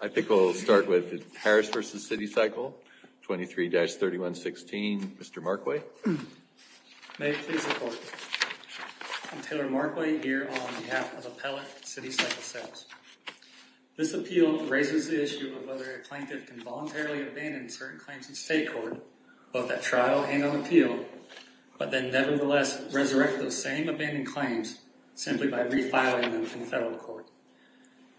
I think we'll start with Harris v. City Cycle, 23-3116, Mr. Markway. May it please the Court. I'm Taylor Markway here on behalf of Appellate City Cycle Sales. This appeal raises the issue of whether a plaintiff can voluntarily abandon certain claims in state court, both at trial and on appeal, but then nevertheless resurrect those same abandoned claims simply by refiling them from federal court.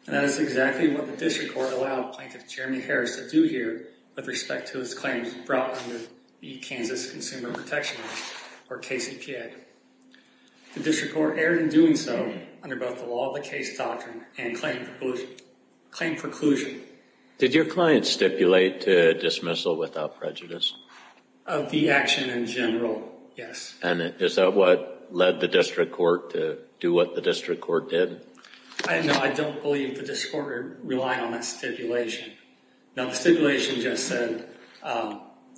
And that is exactly what district court allowed Plaintiff Jeremy Harris to do here with respect to his claims brought under the Kansas Consumer Protection Act or KCPA. The district court erred in doing so under both the law of the case doctrine and claim preclusion. Did your client stipulate to dismissal without prejudice? Of the action in general, yes. And is that what led the district court did? No, I don't believe the district court relied on that stipulation. Now the stipulation just said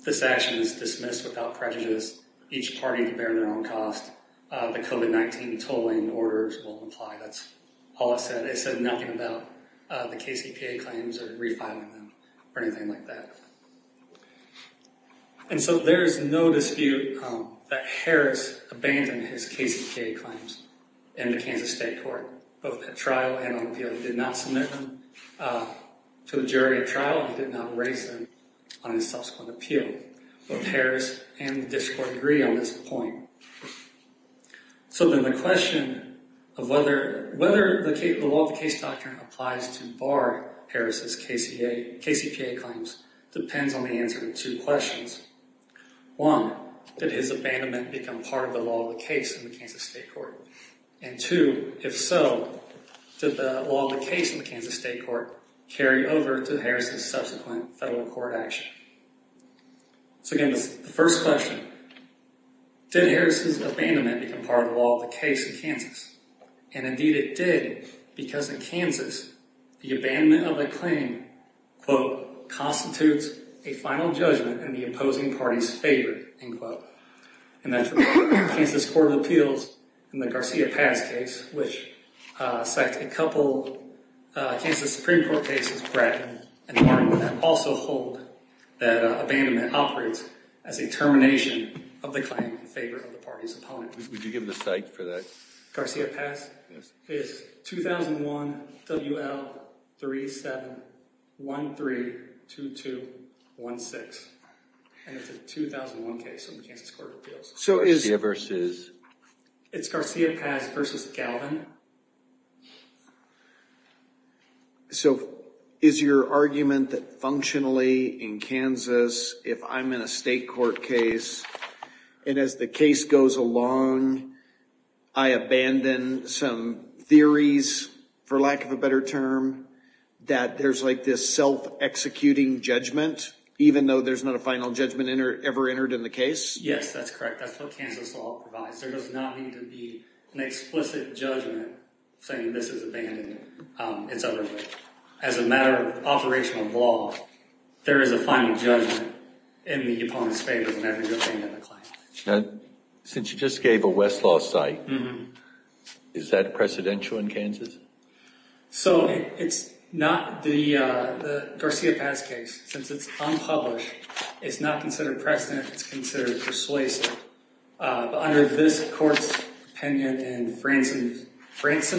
this action is dismissed without prejudice, each party to bear their own cost. The COVID-19 tolling orders will apply. That's all it said. It said nothing about the KCPA claims or refiling them or anything like that. And so there is no dispute that Harris abandoned his KCPA claims in the Kansas State Court, both at trial and on appeal. He did not submit them to the jury at trial. He did not raise them on his subsequent appeal. Both Harris and the district court agree on this point. So then the question of whether the law of the case doctrine applies to bar Harris's KCPA claims depends on the answer to two questions. One, did his abandonment become part of the law of the case in the Kansas State Court? And two, if so, did the law of the case in the Kansas State Court carry over to Harris's subsequent federal court action? So again, the first question, did Harris's abandonment become part of the law of the case in Kansas? And indeed it did, because in Kansas, the abandonment of a claim, quote, constitutes a final judgment in the opposing party's favor, end quote. And that's what the Kansas Court of Appeals in the Garcia-Paz case, which sacked a couple of Kansas Supreme Court cases, Brett and Martin, that also hold that abandonment operates as a termination of the claim in favor of the Garcia-Paz. It's 2001 WL37132216. And it's a 2001 case in the Kansas Court of Appeals. So it's Garcia-Paz versus Galvin? So is your argument that functionally in Kansas, if I'm in a state court case, and as the case goes along, I abandon some theories, for lack of a better term, that there's like this self-executing judgment, even though there's not a final judgment ever entered in the case? Yes, that's correct. That's what Kansas law provides. There does not need to be an explicit judgment saying this is abandoned. It's otherwise. As a matter of operational law, there is a final judgment in the opponent's favor whenever you're abandoning the claim. Since you just gave a Westlaw site, is that precedential in Kansas? So it's not the Garcia-Paz case. Since it's unpublished, it's not considered precedent. It's considered persuasive. But under this court's opinion and Fransom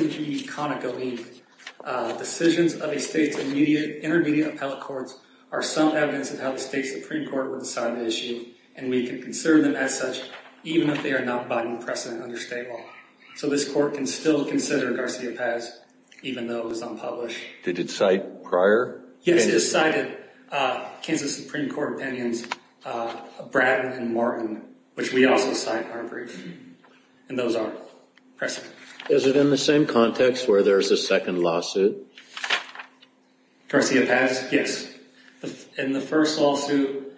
v. Conocoene, decisions of a state's intermediate appellate courts are some evidence of how the state Supreme Court would decide the issue. And we can conserve them as such, even if they are not abiding precedent under state law. So this court can still consider Garcia-Paz, even though it was unpublished. Did it cite prior? Yes, it cited Kansas Supreme Court opinions, Bratton and Morton, which we also cite in our brief. And those are precedent. Is it in the same context where there's a second lawsuit? Garcia-Paz? Yes. In the first lawsuit,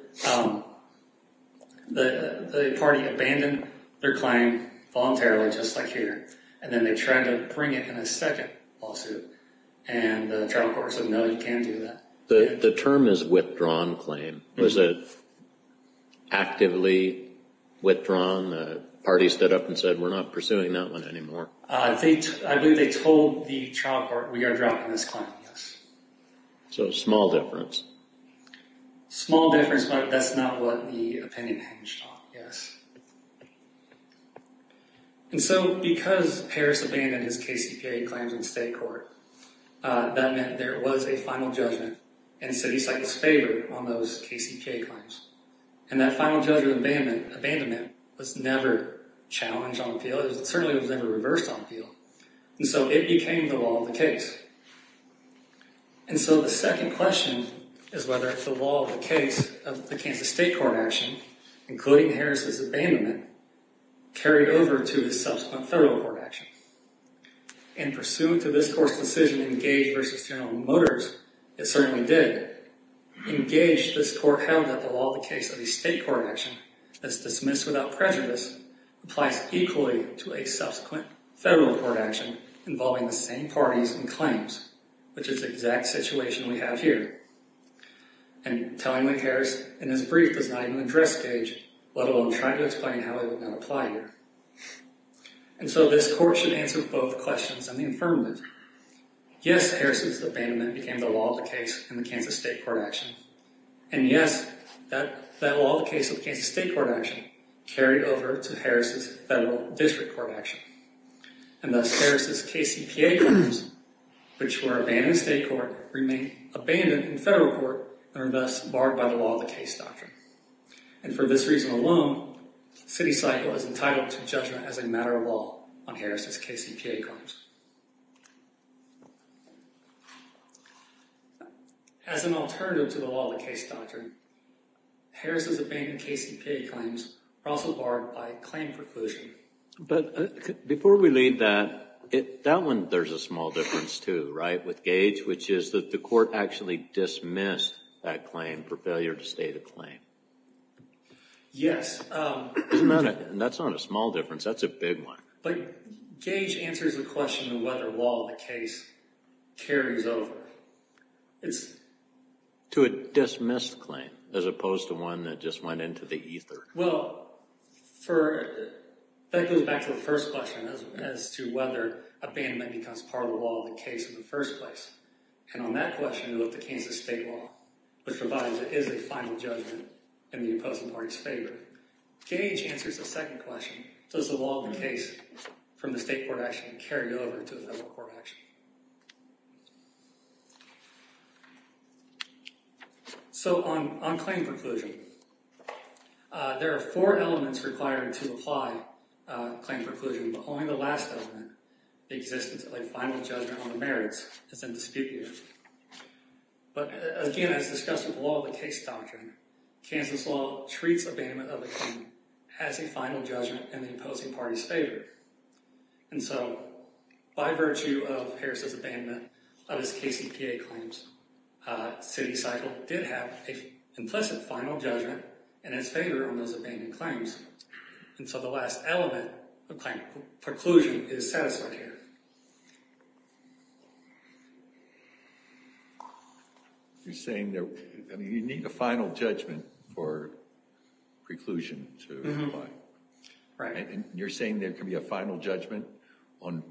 the party abandoned their claim voluntarily, just like here. And then they tried to bring it in a second lawsuit. And the trial court said, no, you can't do that. The term is withdrawn claim. Was it actively withdrawn? The trial court, we are dropping this claim, yes. So a small difference? Small difference, but that's not what the opinion hinged on, yes. And so because Harris abandoned his KCPA claims in state court, that meant there was a final judgment. And so he cited his favor on those KCPA claims. And that final judgment abandonment was never challenged on appeal. It certainly was never reversed on appeal. And so it became the law of the case. And so the second question is whether it's the law of the case of the Kansas state court action, including Harris's abandonment, carried over to his subsequent federal court action. And pursuant to this court's decision to engage versus General Motors, it certainly did, engage this court held that the law of the case of the state court action that's dismissed without prejudice applies equally to a subsequent federal court action involving the same parties and claims, which is the exact situation we have here. And telling the Harris in his brief does not even address Gage, let alone try to explain how it would not apply here. And so this court should answer both questions and the affirmative. Yes, Harris's abandonment became the law of the case in the Kansas state court action. And yes, that law of the case of Kansas state court action carried over to Harris's federal district court action. And thus Harris's KCPA claims, which were abandoned in state court, remain abandoned in federal court and are thus barred by the law of the case doctrine. And for this reason alone, CityCycle is entitled to judgment as a matter of law on Harris's KCPA claims. As an alternative to the law of the case doctrine, Harris's abandoned KCPA claims are also barred by claim preclusion. But before we leave that, that one, there's a small difference too, right, with Gage, which is that the court actually dismissed that claim for failure to state a claim. Yes. Isn't that a, that's not a small difference, that's a big one. But Gage answers the question of whether law of the case carries over. It's to a dismissed claim as opposed to one that just went into the ether. Well, for, that goes back to the first question as to whether abandonment becomes part of the law of the case in the first place. And on that question, we look to Kansas state law, which provides it is a final judgment in the opposing party's favor. Gage answers the second question. Does the law of the case from the state court actually carry over to the federal court action? So on, on claim preclusion, there are four elements requiring to apply claim preclusion, but only the last element, the existence of a final judgment on the merits is in dispute here. But again, as discussed with the law of the case doctrine, Kansas law treats abandonment of a claim as a final judgment in the opposing party's favor. And so by virtue of Harris's abandonment of his KCPA claims, city cycle did have an implicit final judgment in his favor on those abandoned claims. And so the last element of claim preclusion is satisfied here. You're saying that you need the final judgment for preclusion to apply. Right. And you're saying there can be a final judgment on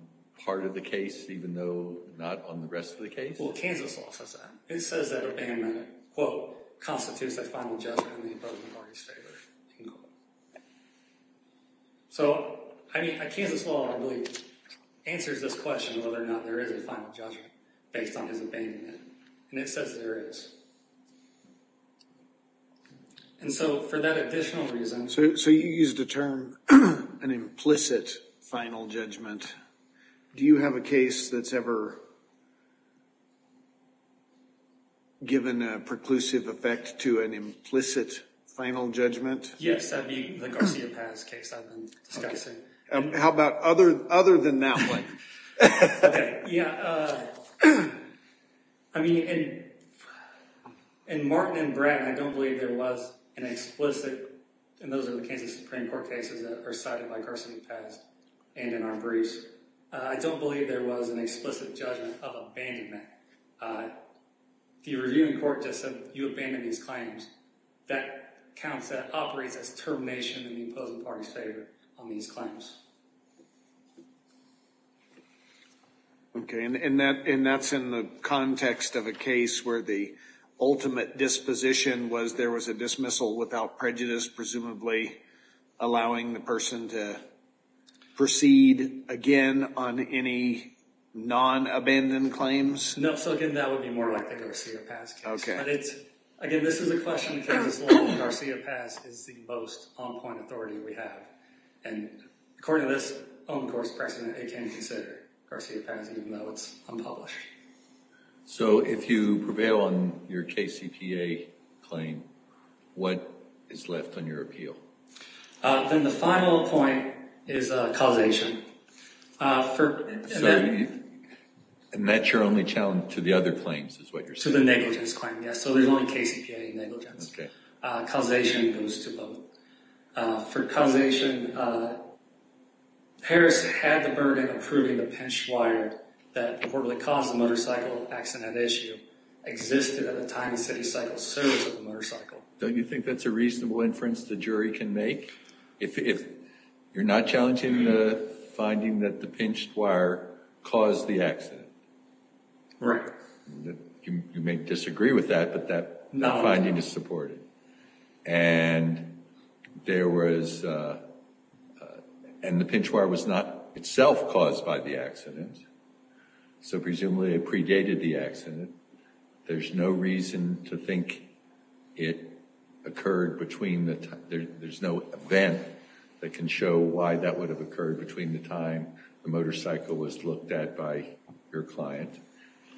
part of the case, even though not on the rest of the case? Well, Kansas law says that. It says that abandonment, quote, constitutes a final judgment in the opposing party's favor. So I mean, Kansas law, I believe, answers this question of whether or not there is a final judgment based on his abandonment. And it says there is. And so for that additional reason. So, so you used the term an implicit final judgment. Do you have a case that's ever given a preclusive effect to an implicit final judgment? Yes. I mean, the Garcia-Paz case I've discussed. How about other than that one? Yeah. I mean, in Martin and Bratton, I don't believe there was an explicit, and those are the Kansas Supreme Court cases that are cited by Garcia-Paz and in our briefs. I don't believe there was an explicit judgment of abandonment. The reviewing court just said, you abandon these claims. That counts, that operates as termination of the opposing party's favor on these claims. Okay. And that's in the context of a case where the ultimate disposition was there was a dismissal without prejudice, presumably allowing the person to proceed again on any non-abandoned claims? No. So again, that would be more like the Garcia-Paz case. Okay. But it's, again, this is a question of Garcia-Paz is the most on-point authority we have. And according to this own course precedent, it can consider Garcia-Paz even though it's unpublished. So if you prevail on your KCPA claim, what is left on your appeal? Then the final point is causation. And that's your only challenge to the other claims is what you're saying? To the negligence claim, yes. So there's only KCPA negligence. Okay. Causation goes to both. For causation, Harris had the burden of proving the pinched wire that reportedly caused the motorcycle accident issue existed at the time the city cycle service of the motorcycle. Don't you think that's a reasonable inference the jury can make? If you're not challenging the finding that the pinched wire caused the accident. Right. You may disagree with that, but that finding is supported. And there was, and the pinched wire was not itself caused by the accident. So presumably it predated the accident. There's no reason to think it occurred between the time, there's no event that can show why that would have occurred between the time the motorcycle was looked at by your client.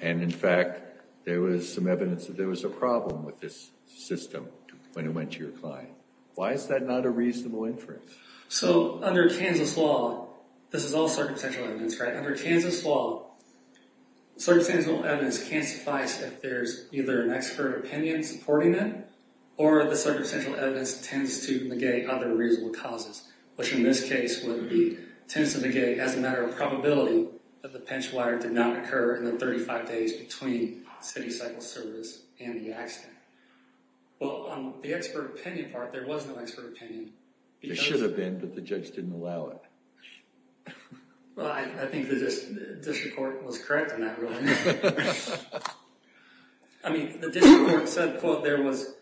And in fact, there was some evidence that there was a problem with this system when it went to your client. Why is that not a reasonable inference? So under Kansas law, this is all circumstantial evidence, right? Under Kansas law, circumstantial evidence can't suffice if there's either an expert opinion supporting it or the circumstantial evidence tends to negate other reasonable causes, which in this case would be tends to negate as a matter of probability that the pinched wire did not occur in the 35 days between city cycle service and the accident. Well, on the expert opinion part, there was no expert opinion. There should have been, but the judge didn't allow it. Well, I think the district court was correct on that. I mean, the district court said, quote, there was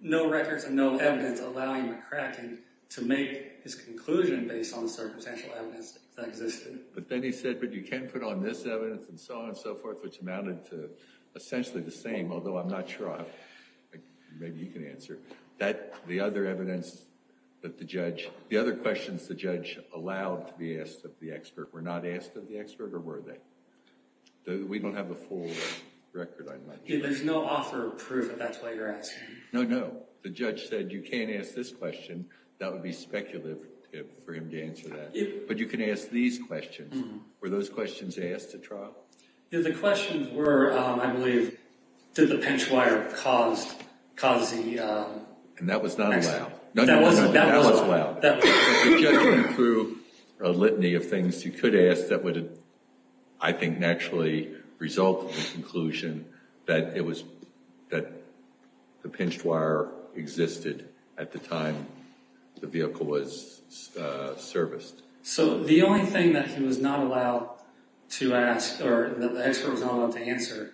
no records and no evidence allowing McCracken to make his conclusion based on the circumstantial evidence that existed. But then he said, but you can't put on this evidence and so on and so forth, which amounted to essentially the same, although I'm not sure. Maybe you can answer that. The other evidence that the judge, the other questions the judge allowed to be asked of the expert were not asked of the expert or were they? We don't have a full record on that. There's no offer of proof that that's why you're asking. No, no. The judge said, you can't ask this question. That would be speculative for him to answer that. But you can ask these questions. Were those questions asked at trial? Yeah, the questions were, I believe, did the pinched wire cause the accident? And that was not allowed. No, no, no. That was allowed. The judge went through a litany of things he could ask that would, I think, naturally result in the conclusion that the pinched wire existed at the time the vehicle was serviced. So the only thing that he was not allowed to ask or that the expert was not allowed to answer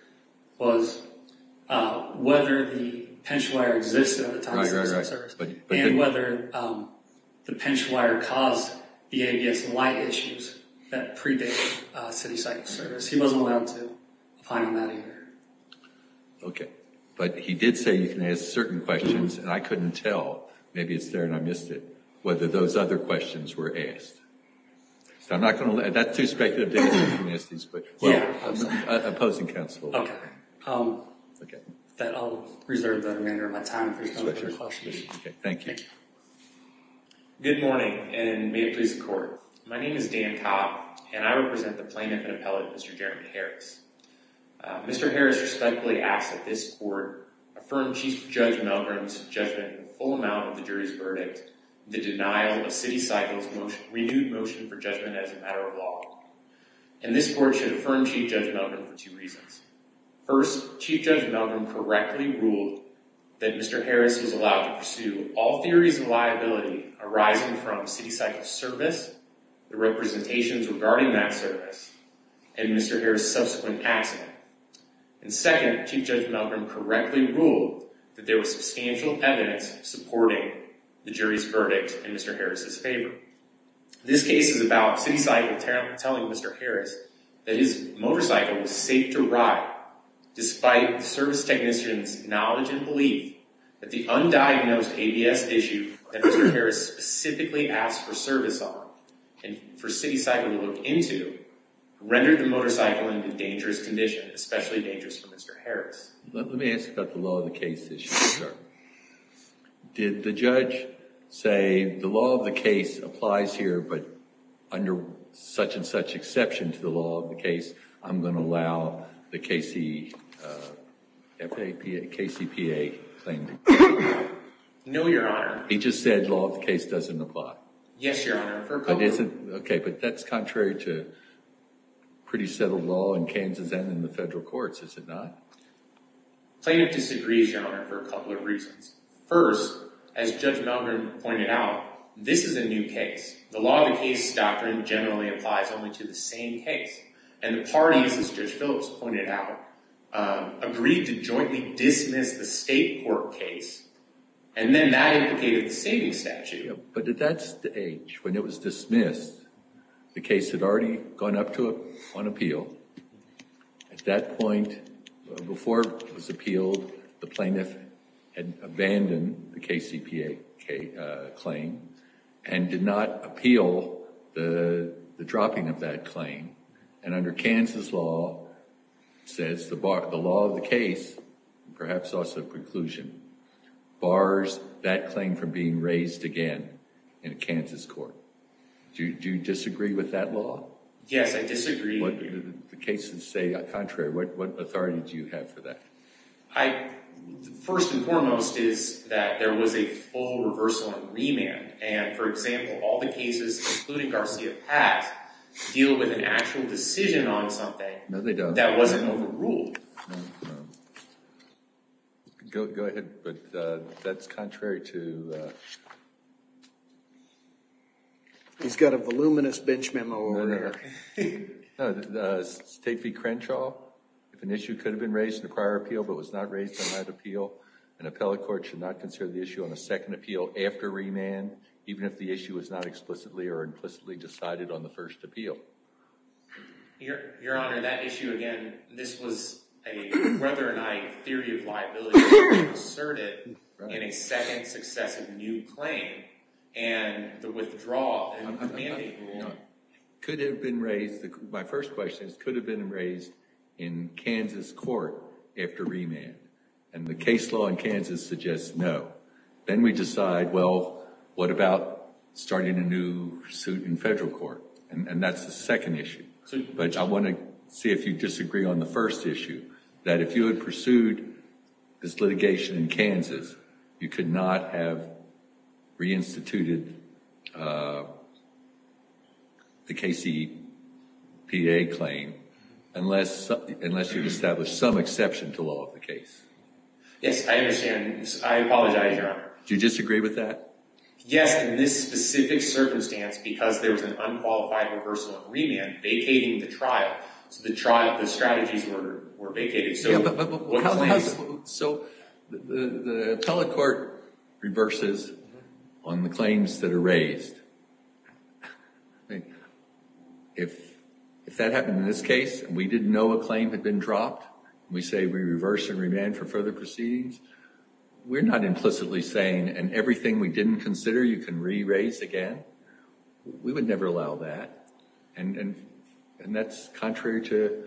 was whether the pinched wire existed at the time the vehicle was serviced and whether the pinched wire caused the ABS light issues that predate city cycle service. He wasn't allowed to find on that either. Okay. But he did say you can ask certain questions and I couldn't tell, maybe it's there and I missed it, whether those other questions were asked. So I'm not going to, that's too speculative to ask these questions. Well, I'm opposing counsel. Okay. I'll reserve the remainder of my time for your questions. Okay. Thank you. Good morning and may it please the court. My name is Dan Cobb and I represent the plaintiff and appellate, Mr. Jeremy Harris. Mr. Harris respectfully asks that this court affirm Chief Judge Melgrim's judgment in the full amount of the jury's verdict, the denial of city cycle's renewed motion for judgment as a matter of law. And this court should affirm Chief Judge Melgrim for two reasons. First, Chief Judge Melgrim correctly ruled that Mr. Harris was allowed to pursue all theories of city cycle service, the representations regarding that service, and Mr. Harris' subsequent accident. And second, Chief Judge Melgrim correctly ruled that there was substantial evidence supporting the jury's verdict in Mr. Harris' favor. This case is about city cycle telling Mr. Harris that his motorcycle was safe to ride, despite the service technician's knowledge and knowledge of what the facts for service are. And for city cycle to look into, rendered the motorcycle into a dangerous condition, especially dangerous for Mr. Harris. Let me ask about the law of the case issue, sir. Did the judge say the law of the case applies here, but under such and such exception to the law of the case, I'm going to allow the KCPA claim to continue? No, your honor. He just said law of the case doesn't apply. Yes, your honor, for a couple of reasons. Okay, but that's contrary to pretty settled law in Kansas and in the federal courts, is it not? Plaintiff disagrees, your honor, for a couple of reasons. First, as Judge Melgrim pointed out, this is a new case. The law of the case doctrine generally applies only to the same case. And the parties, as Judge Phillips pointed out, agreed to jointly dismiss the But at that stage, when it was dismissed, the case had already gone up to on appeal. At that point, before it was appealed, the plaintiff had abandoned the KCPA claim and did not appeal the dropping of that claim. And under Kansas law, it says the law of the case, perhaps also preclusion, bars that claim from being raised again in a Kansas court. Do you disagree with that law? Yes, I disagree. The cases say contrary. What authority do you have for that? First and foremost is that there was a full reversal and remand. And for example, all the cases, including Garcia-Paz, deal with an actual decision on something that wasn't overruled. Go ahead. But that's contrary to... He's got a voluminous bench memo over there. State v. Crenshaw, if an issue could have been raised in the prior appeal but was not raised on that appeal, an appellate court should not consider the issue on a second appeal after remand, even if the issue is not explicitly or implicitly decided on the first appeal. Your Honor, that issue, again, this was a weather-or-night theory of liability, but you assert it in a second successive new claim. And the withdrawal and the mandate rule... My first question is, could it have been raised in Kansas court after remand? And the case law in Kansas suggests no. Then we decide, well, what about starting a new suit in federal court? And that's the second issue. But I want to see if you disagree on the first issue, that if you had pursued this litigation in Kansas, you could not have reinstituted the KCPA claim unless you established some exception to law of the case. Yes, I understand. I apologize, Your Honor. Do you disagree with that? Yes, in this specific circumstance, because there was an unqualified reversal and remand vacating the trial. So the strategies were vacated. So what's the answer? So the appellate court reverses on the claims that are raised. If that happened in this case, and we didn't know a claim had been dropped, we say we reverse and remand for further proceedings, we're not implicitly saying, and everything we didn't consider, you can re-raise again. We would never allow that. And that's contrary to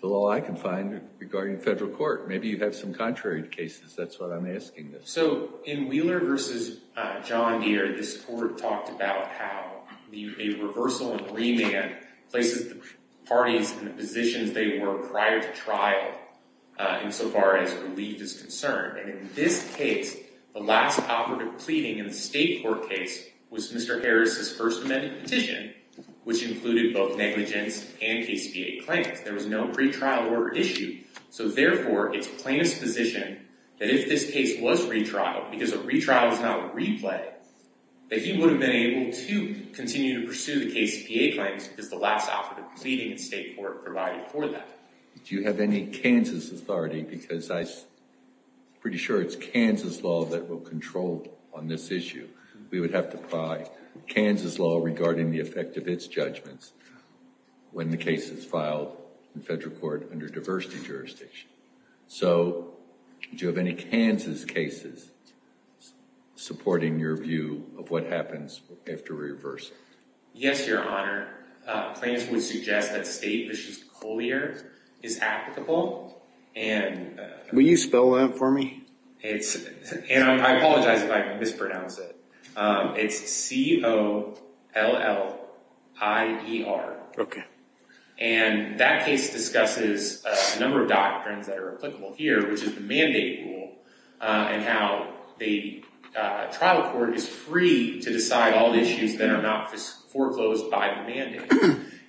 the law I can find regarding federal court. Maybe you have some contrary cases. That's what I'm asking. So in Wheeler versus John Deere, this court talked about how a reversal and remand places the parties in the positions they were prior to trial insofar as relief is concerned. And in this case, the last operative pleading in the state court case was Mr. Harris' first amended petition, which included both negligence and KCPA claims. There was no pretrial order issued. So therefore, it's plaintiff's position that if this case was retrialed, because a retrial is not a replay, that he would have been able to continue to pursue the KCPA claims because the last operative pleading in state court provided for that. Do you have any Kansas authority? Because I'm pretty sure it's Kansas law that will control on this issue. We would have to apply Kansas law regarding the effect of its judgments when the case is filed in federal court under diversity jurisdiction. So do you have any Kansas cases supporting your view of what happens after reversal? Yes, Your Honor. Plaintiffs would suggest that state v. Collier is applicable. Will you spell that for me? I apologize if I mispronounce it. It's C-O-L-L-I-E-R. Okay. And that case discusses a number of doctrines that are applicable here, which is the mandate rule and how the trial court is free to decide all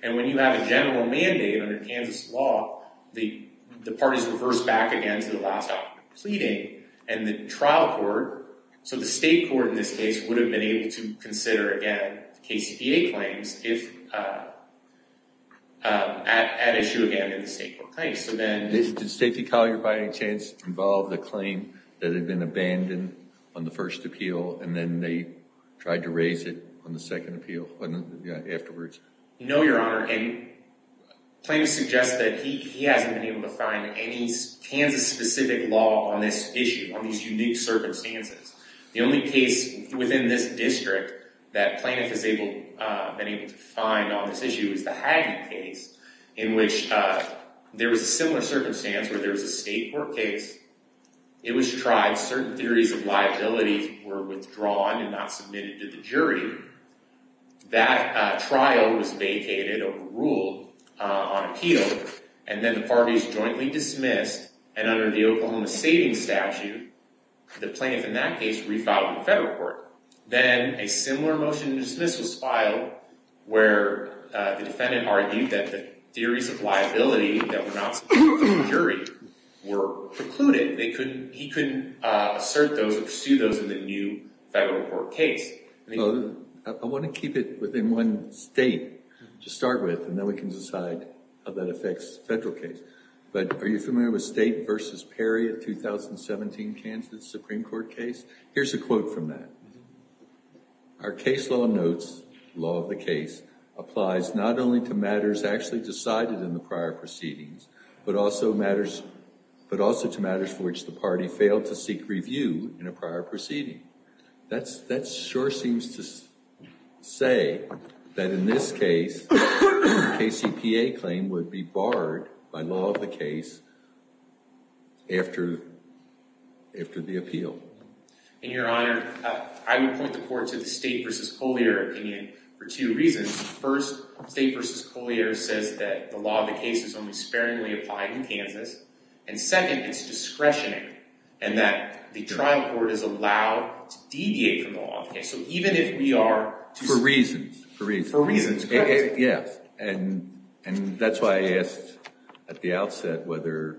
And when you have a general mandate under Kansas law, the parties reverse back again to the last operative pleading and the trial court. So the state court in this case would have been able to consider again the KCPA claims at issue again in the state court. Thanks. Did state v. Collier by any chance involve the claim that had been abandoned on the first appeal and then they tried to raise it on the second appeal afterwards? No, Your Honor. And plaintiffs suggest that he hasn't been able to find any Kansas-specific law on this issue, on these unique circumstances. The only case within this district that plaintiff has been able to find on this issue is the Hagen case in which there was a similar circumstance where there was a state court case. It was tried. Certain theories of liability were withdrawn and not submitted to the jury. That trial was vacated over rule on appeal. And then the parties jointly dismissed. And under the Oklahoma savings statute, the plaintiff in that case refiled the federal court. Then a similar motion to dismiss was filed where the defendant argued that the theories of liability that were not submitted to the jury were precluded. He couldn't assert those or pursue those in the new federal court case. I want to keep it within one state to start with and then we can decide how that affects the federal case. But are you familiar with State v. Perry in the 2017 Kansas Supreme Court case? Here's a quote from that. Our case law notes, law of the case, applies not only to matters actually decided in prior proceedings, but also to matters for which the party failed to seek review in a prior proceeding. That sure seems to say that in this case, the KCPA claim would be barred by law of the case after the appeal. And your honor, I would point the court to the State v. Polio opinion for two reasons. First, State v. Polio says that the law of the case is only sparingly applied in Kansas. And second, it's discretionary and that the trial court is allowed to deviate from the law of the case. So even if we are... For reasons. For reasons. For reasons. Yes. And that's why I asked at the outset whether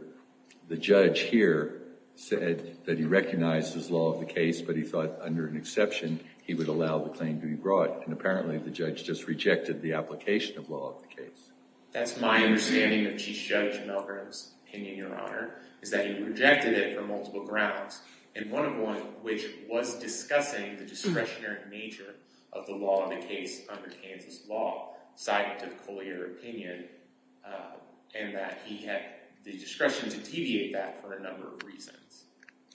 the judge here said that he recognized his law of the case, but he thought under an exception, he would allow the claim to be brought. And apparently the judge just rejected the application of law of the case. That's my understanding of Chief Judge Milgram's opinion, your honor, is that he rejected it for multiple grounds. And one of which was discussing the discretionary nature of the law of the case under Kansas law, side with the Polio opinion, and that he had the discretion to deviate that for a number of reasons.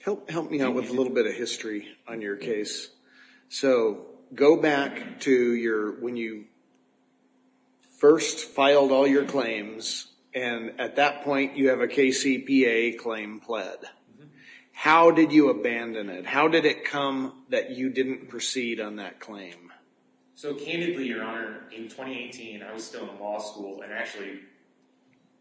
Help me out with a little bit of history on your case. So go back to when you first filed all your claims and at that point you have a KCPA claim pled. How did you abandon it? How did it come that you didn't proceed on that claim? So candidly, your honor, in 2018, I was still in law school and actually,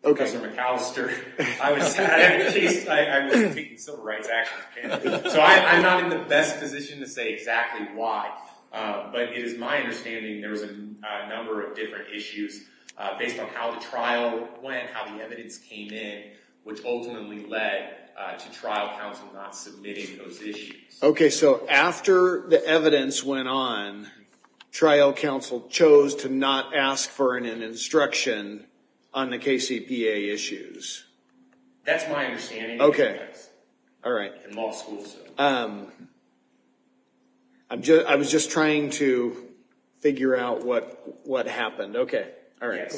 okay, Mr. McAllister, I was taking civil rights action. So I'm not in the best position to say exactly why, but it is my understanding there was a number of different issues based on how the trial went, how the evidence came in, which ultimately led to trial counsel not submitting those issues. Okay, so after the evidence went on, trial counsel chose to not ask for an instruction on the KCPA issues. That's my understanding. Okay, all right. In law school. I was just trying to figure out what happened. Okay, all right.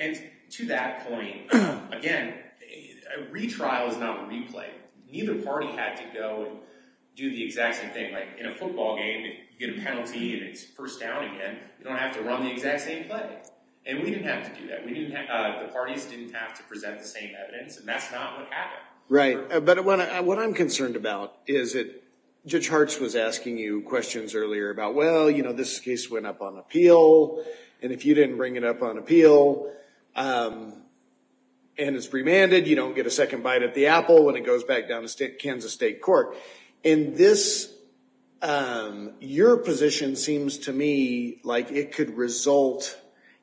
And to that point, again, retrial is not replay. Neither party had to go and do the exact same thing. Like in a football game, you get a penalty and it's first down again, you don't have to run the exact same play. And we didn't have to do that. The parties didn't have to present the same evidence and that's not what happened. Right. But what I'm concerned about is that Judge Hartz was asking you questions earlier about, well, you know, this case went up on appeal and if you didn't bring it up on appeal and it's remanded, you don't get a second bite at the apple when it goes back down to Kansas State Court. And this, your position seems to me like it could result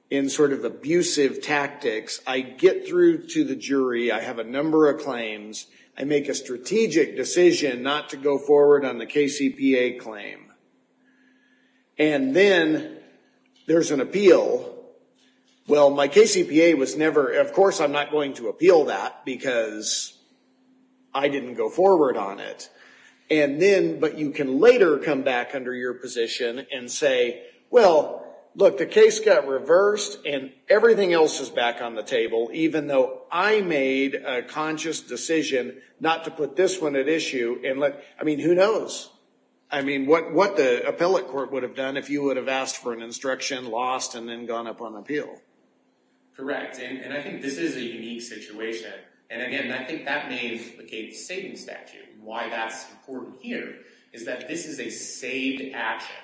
in sort of abusive tactics. I get through to the jury. I have a number of claims. I make a strategic decision not to go forward on the KCPA claim. And then there's an appeal. Well, my KCPA was never, of course, I'm not going to appeal that because I didn't go forward on it. And then, but you can later come back under your position and say, well, look, the case got reversed and everything else is back on the table, even though I made a conscious decision not to put this one at issue and let, I mean, who knows? I mean, what the appellate court would have done if you would have asked for an instruction, lost, and then gone up on appeal. Correct. And I think this is a unique situation. And again, I think that may implicate the saving statute. And why that's important here is that this is a saved action.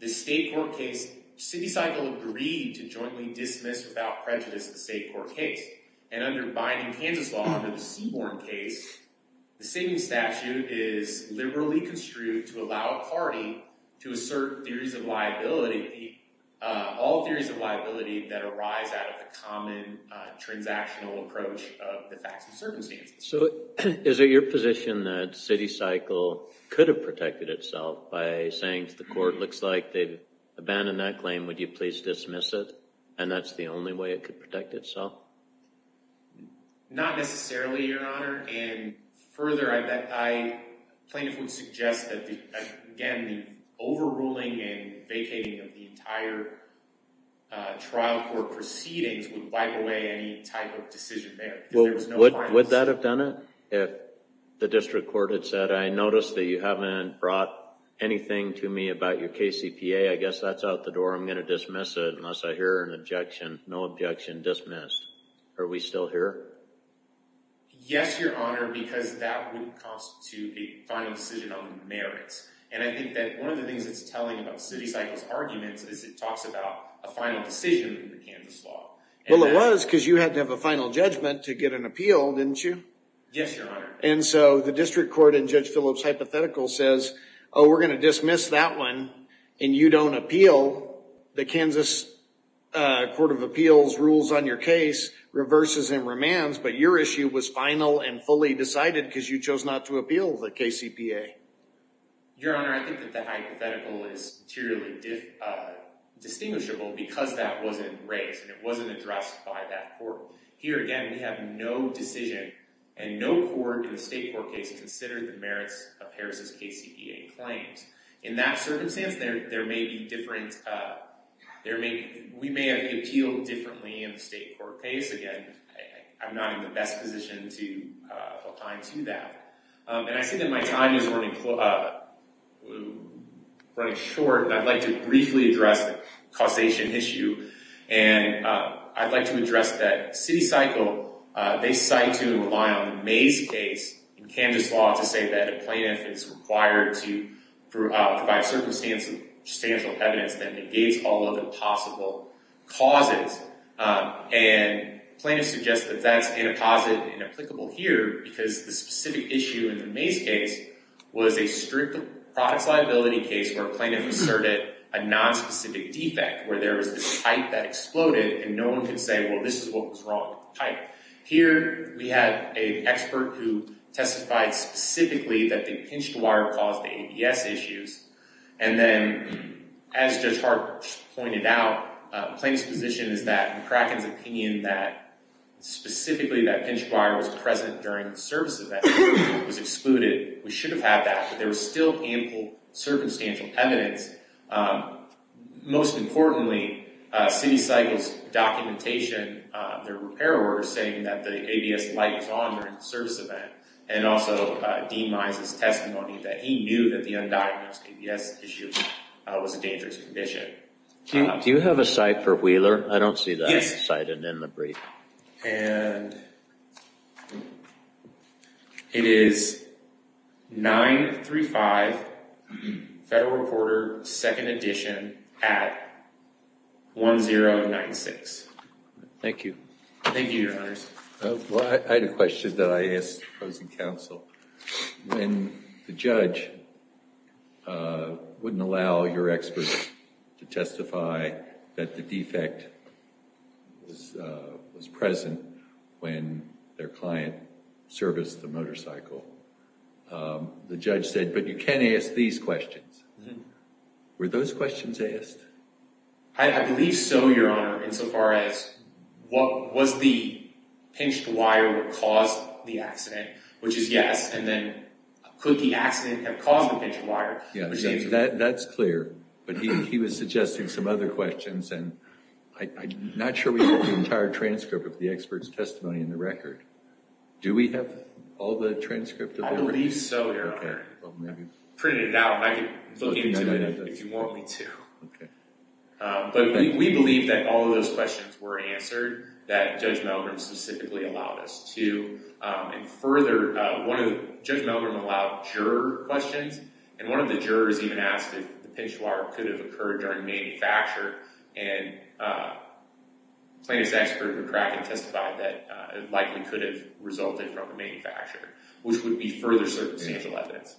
The state court case, CityCycle agreed to jointly dismiss without prejudice the state court case. And under binding Kansas law under the Seaborne case, the saving statute is liberally construed to allow a party to assert theories of liability, all theories of liability that arise out of the common transactional approach of the facts and circumstances. So is it your position that CityCycle could have protected itself by saying to the court, looks like they've abandoned that claim, would you please dismiss it? And that's the only way it could protect itself? Not necessarily, Your Honor. And further, plaintiff would suggest that, again, the overruling and vacating of the entire trial court proceedings would wipe away any type of decision there. Would that have done it? If the district court had said, I noticed that you haven't brought anything to me about your KCPA, I guess that's out the door. I'm going to dismiss it unless I hear an objection. No objection. Dismissed. Are we still here? Yes, Your Honor, because that would constitute a final decision on merits. And I think that one of the things it's telling about CityCycle's arguments is it talks about a final decision in the Kansas law. Well, it was because you had to have a final judgment to get an appeal, didn't you? Yes, Your Honor. And so the district court in Judge Phillips' hypothetical says, oh, we're going to dismiss that one and you don't appeal. The Kansas Court of Appeals rules on your case reverses and remands, but your issue was final and fully decided because you chose not to appeal the KCPA. Your Honor, I think that the hypothetical is materially distinguishable because that wasn't raised and it wasn't addressed by that court. Here, again, we have no decision and no court in the state court case considered the merits of Harris' KCPA claims. In that circumstance, we may have appealed differently in the state court case. Again, I'm not in the best position to apply to that. And I see that my time is running short, and I'd like to briefly address the causation issue. And I'd like to address that CityCycle, they cite to rely on the Mays case in Kansas law to say that a plaintiff is required to provide circumstantial evidence that negates all other possible causes. And plaintiffs suggest that that's inapposite and inapplicable here because the specific issue in the Mays case was a strict products liability case where a plaintiff asserted a nonspecific defect, where there was this pipe that exploded and no one could say, well, this is what was wrong with the pipe. Here, we have an expert who testified specifically that the pinched wire caused the ABS issues. And then, as Judge Hart pointed out, plaintiff's position is that McCracken's opinion that specifically that pinched wire was present during the service event was excluded. We should have had that, but there was still ample circumstantial evidence. Most importantly, CityCycle's documentation, their repair order saying that the ABS light was on during the service event, and also Dean Mize's testimony that he knew that the undiagnosed ABS issue was a dangerous condition. Do you have a site for Wheeler? I don't see that cited in the brief. And it is 935 Federal Reporter, 2nd Edition at 1096. Thank you. Thank you, Your Honors. Well, I had a question that I asked opposing counsel. When the judge wouldn't allow your experts to testify that the defect was present when their client serviced the motorcycle, the judge said, but you can ask these questions. Were those questions asked? I believe so, Your Honor, insofar as was the pinched wire what caused the accident, which is yes. And then, could the accident have caused the pinched wire? Yeah, that's clear. But he was suggesting some other questions, and I'm not sure we have the entire transcript of the expert's testimony in the record. Do we have all the transcript? I believe so, Your Honor. I printed it out, and I can look into it if you want me to. But we believe that all of those questions were answered, that Judge Meldrum specifically allowed us to. And further, Judge Meldrum allowed juror questions, and one of the jurors even asked if the pinched wire could have occurred during manufacture, and plaintiff's expert McCracken testified that it likely could have resulted from the manufacture, which would be further evidence.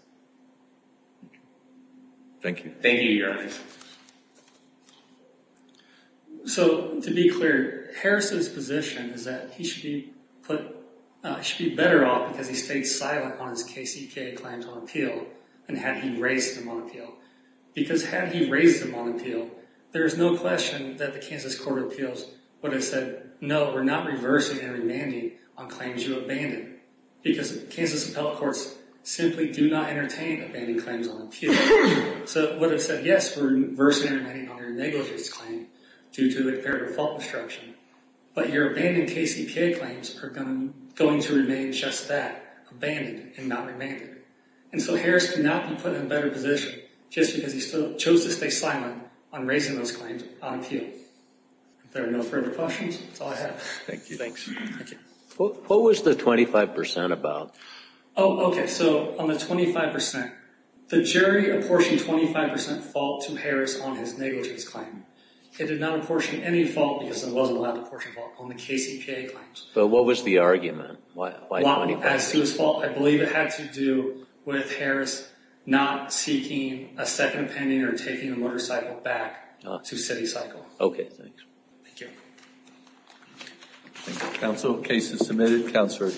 Thank you. Thank you, Your Honor. So, to be clear, Harris's position is that he should be better off because he stayed silent on his KCK clientele appeal, and had he raised him on appeal. Because had he raised him on appeal, there's no question that the Kansas Court of Appeals would have said, no, we're not reversing and remanding on claims you abandoned, because Kansas appellate courts simply do not entertain abandoned claims on appeal. So it would have said, yes, we're reversing and remanding on your negligence claim due to a fair default instruction, but your abandoned KCK claims are going to remain just that, abandoned and not remanded. And so Harris could not be put in a better position just because he chose to stay silent on raising those claims on appeal. If there are no further questions, that's all I have. Thank you. Thanks. What was the 25% about? Oh, okay. So on the 25%, the jury apportioned 25% fault to Harris on his negligence claim. It did not apportion any fault because it wasn't allowed to apportion fault on the KCK claims. But what was the argument? Why 25%? As to his fault, I believe it had to do with Harris not seeking a second opinion or taking the motorcycle back to city cycle. Okay. Thanks. Thank you. Thank you, counsel. Case is submitted. Counselor excused.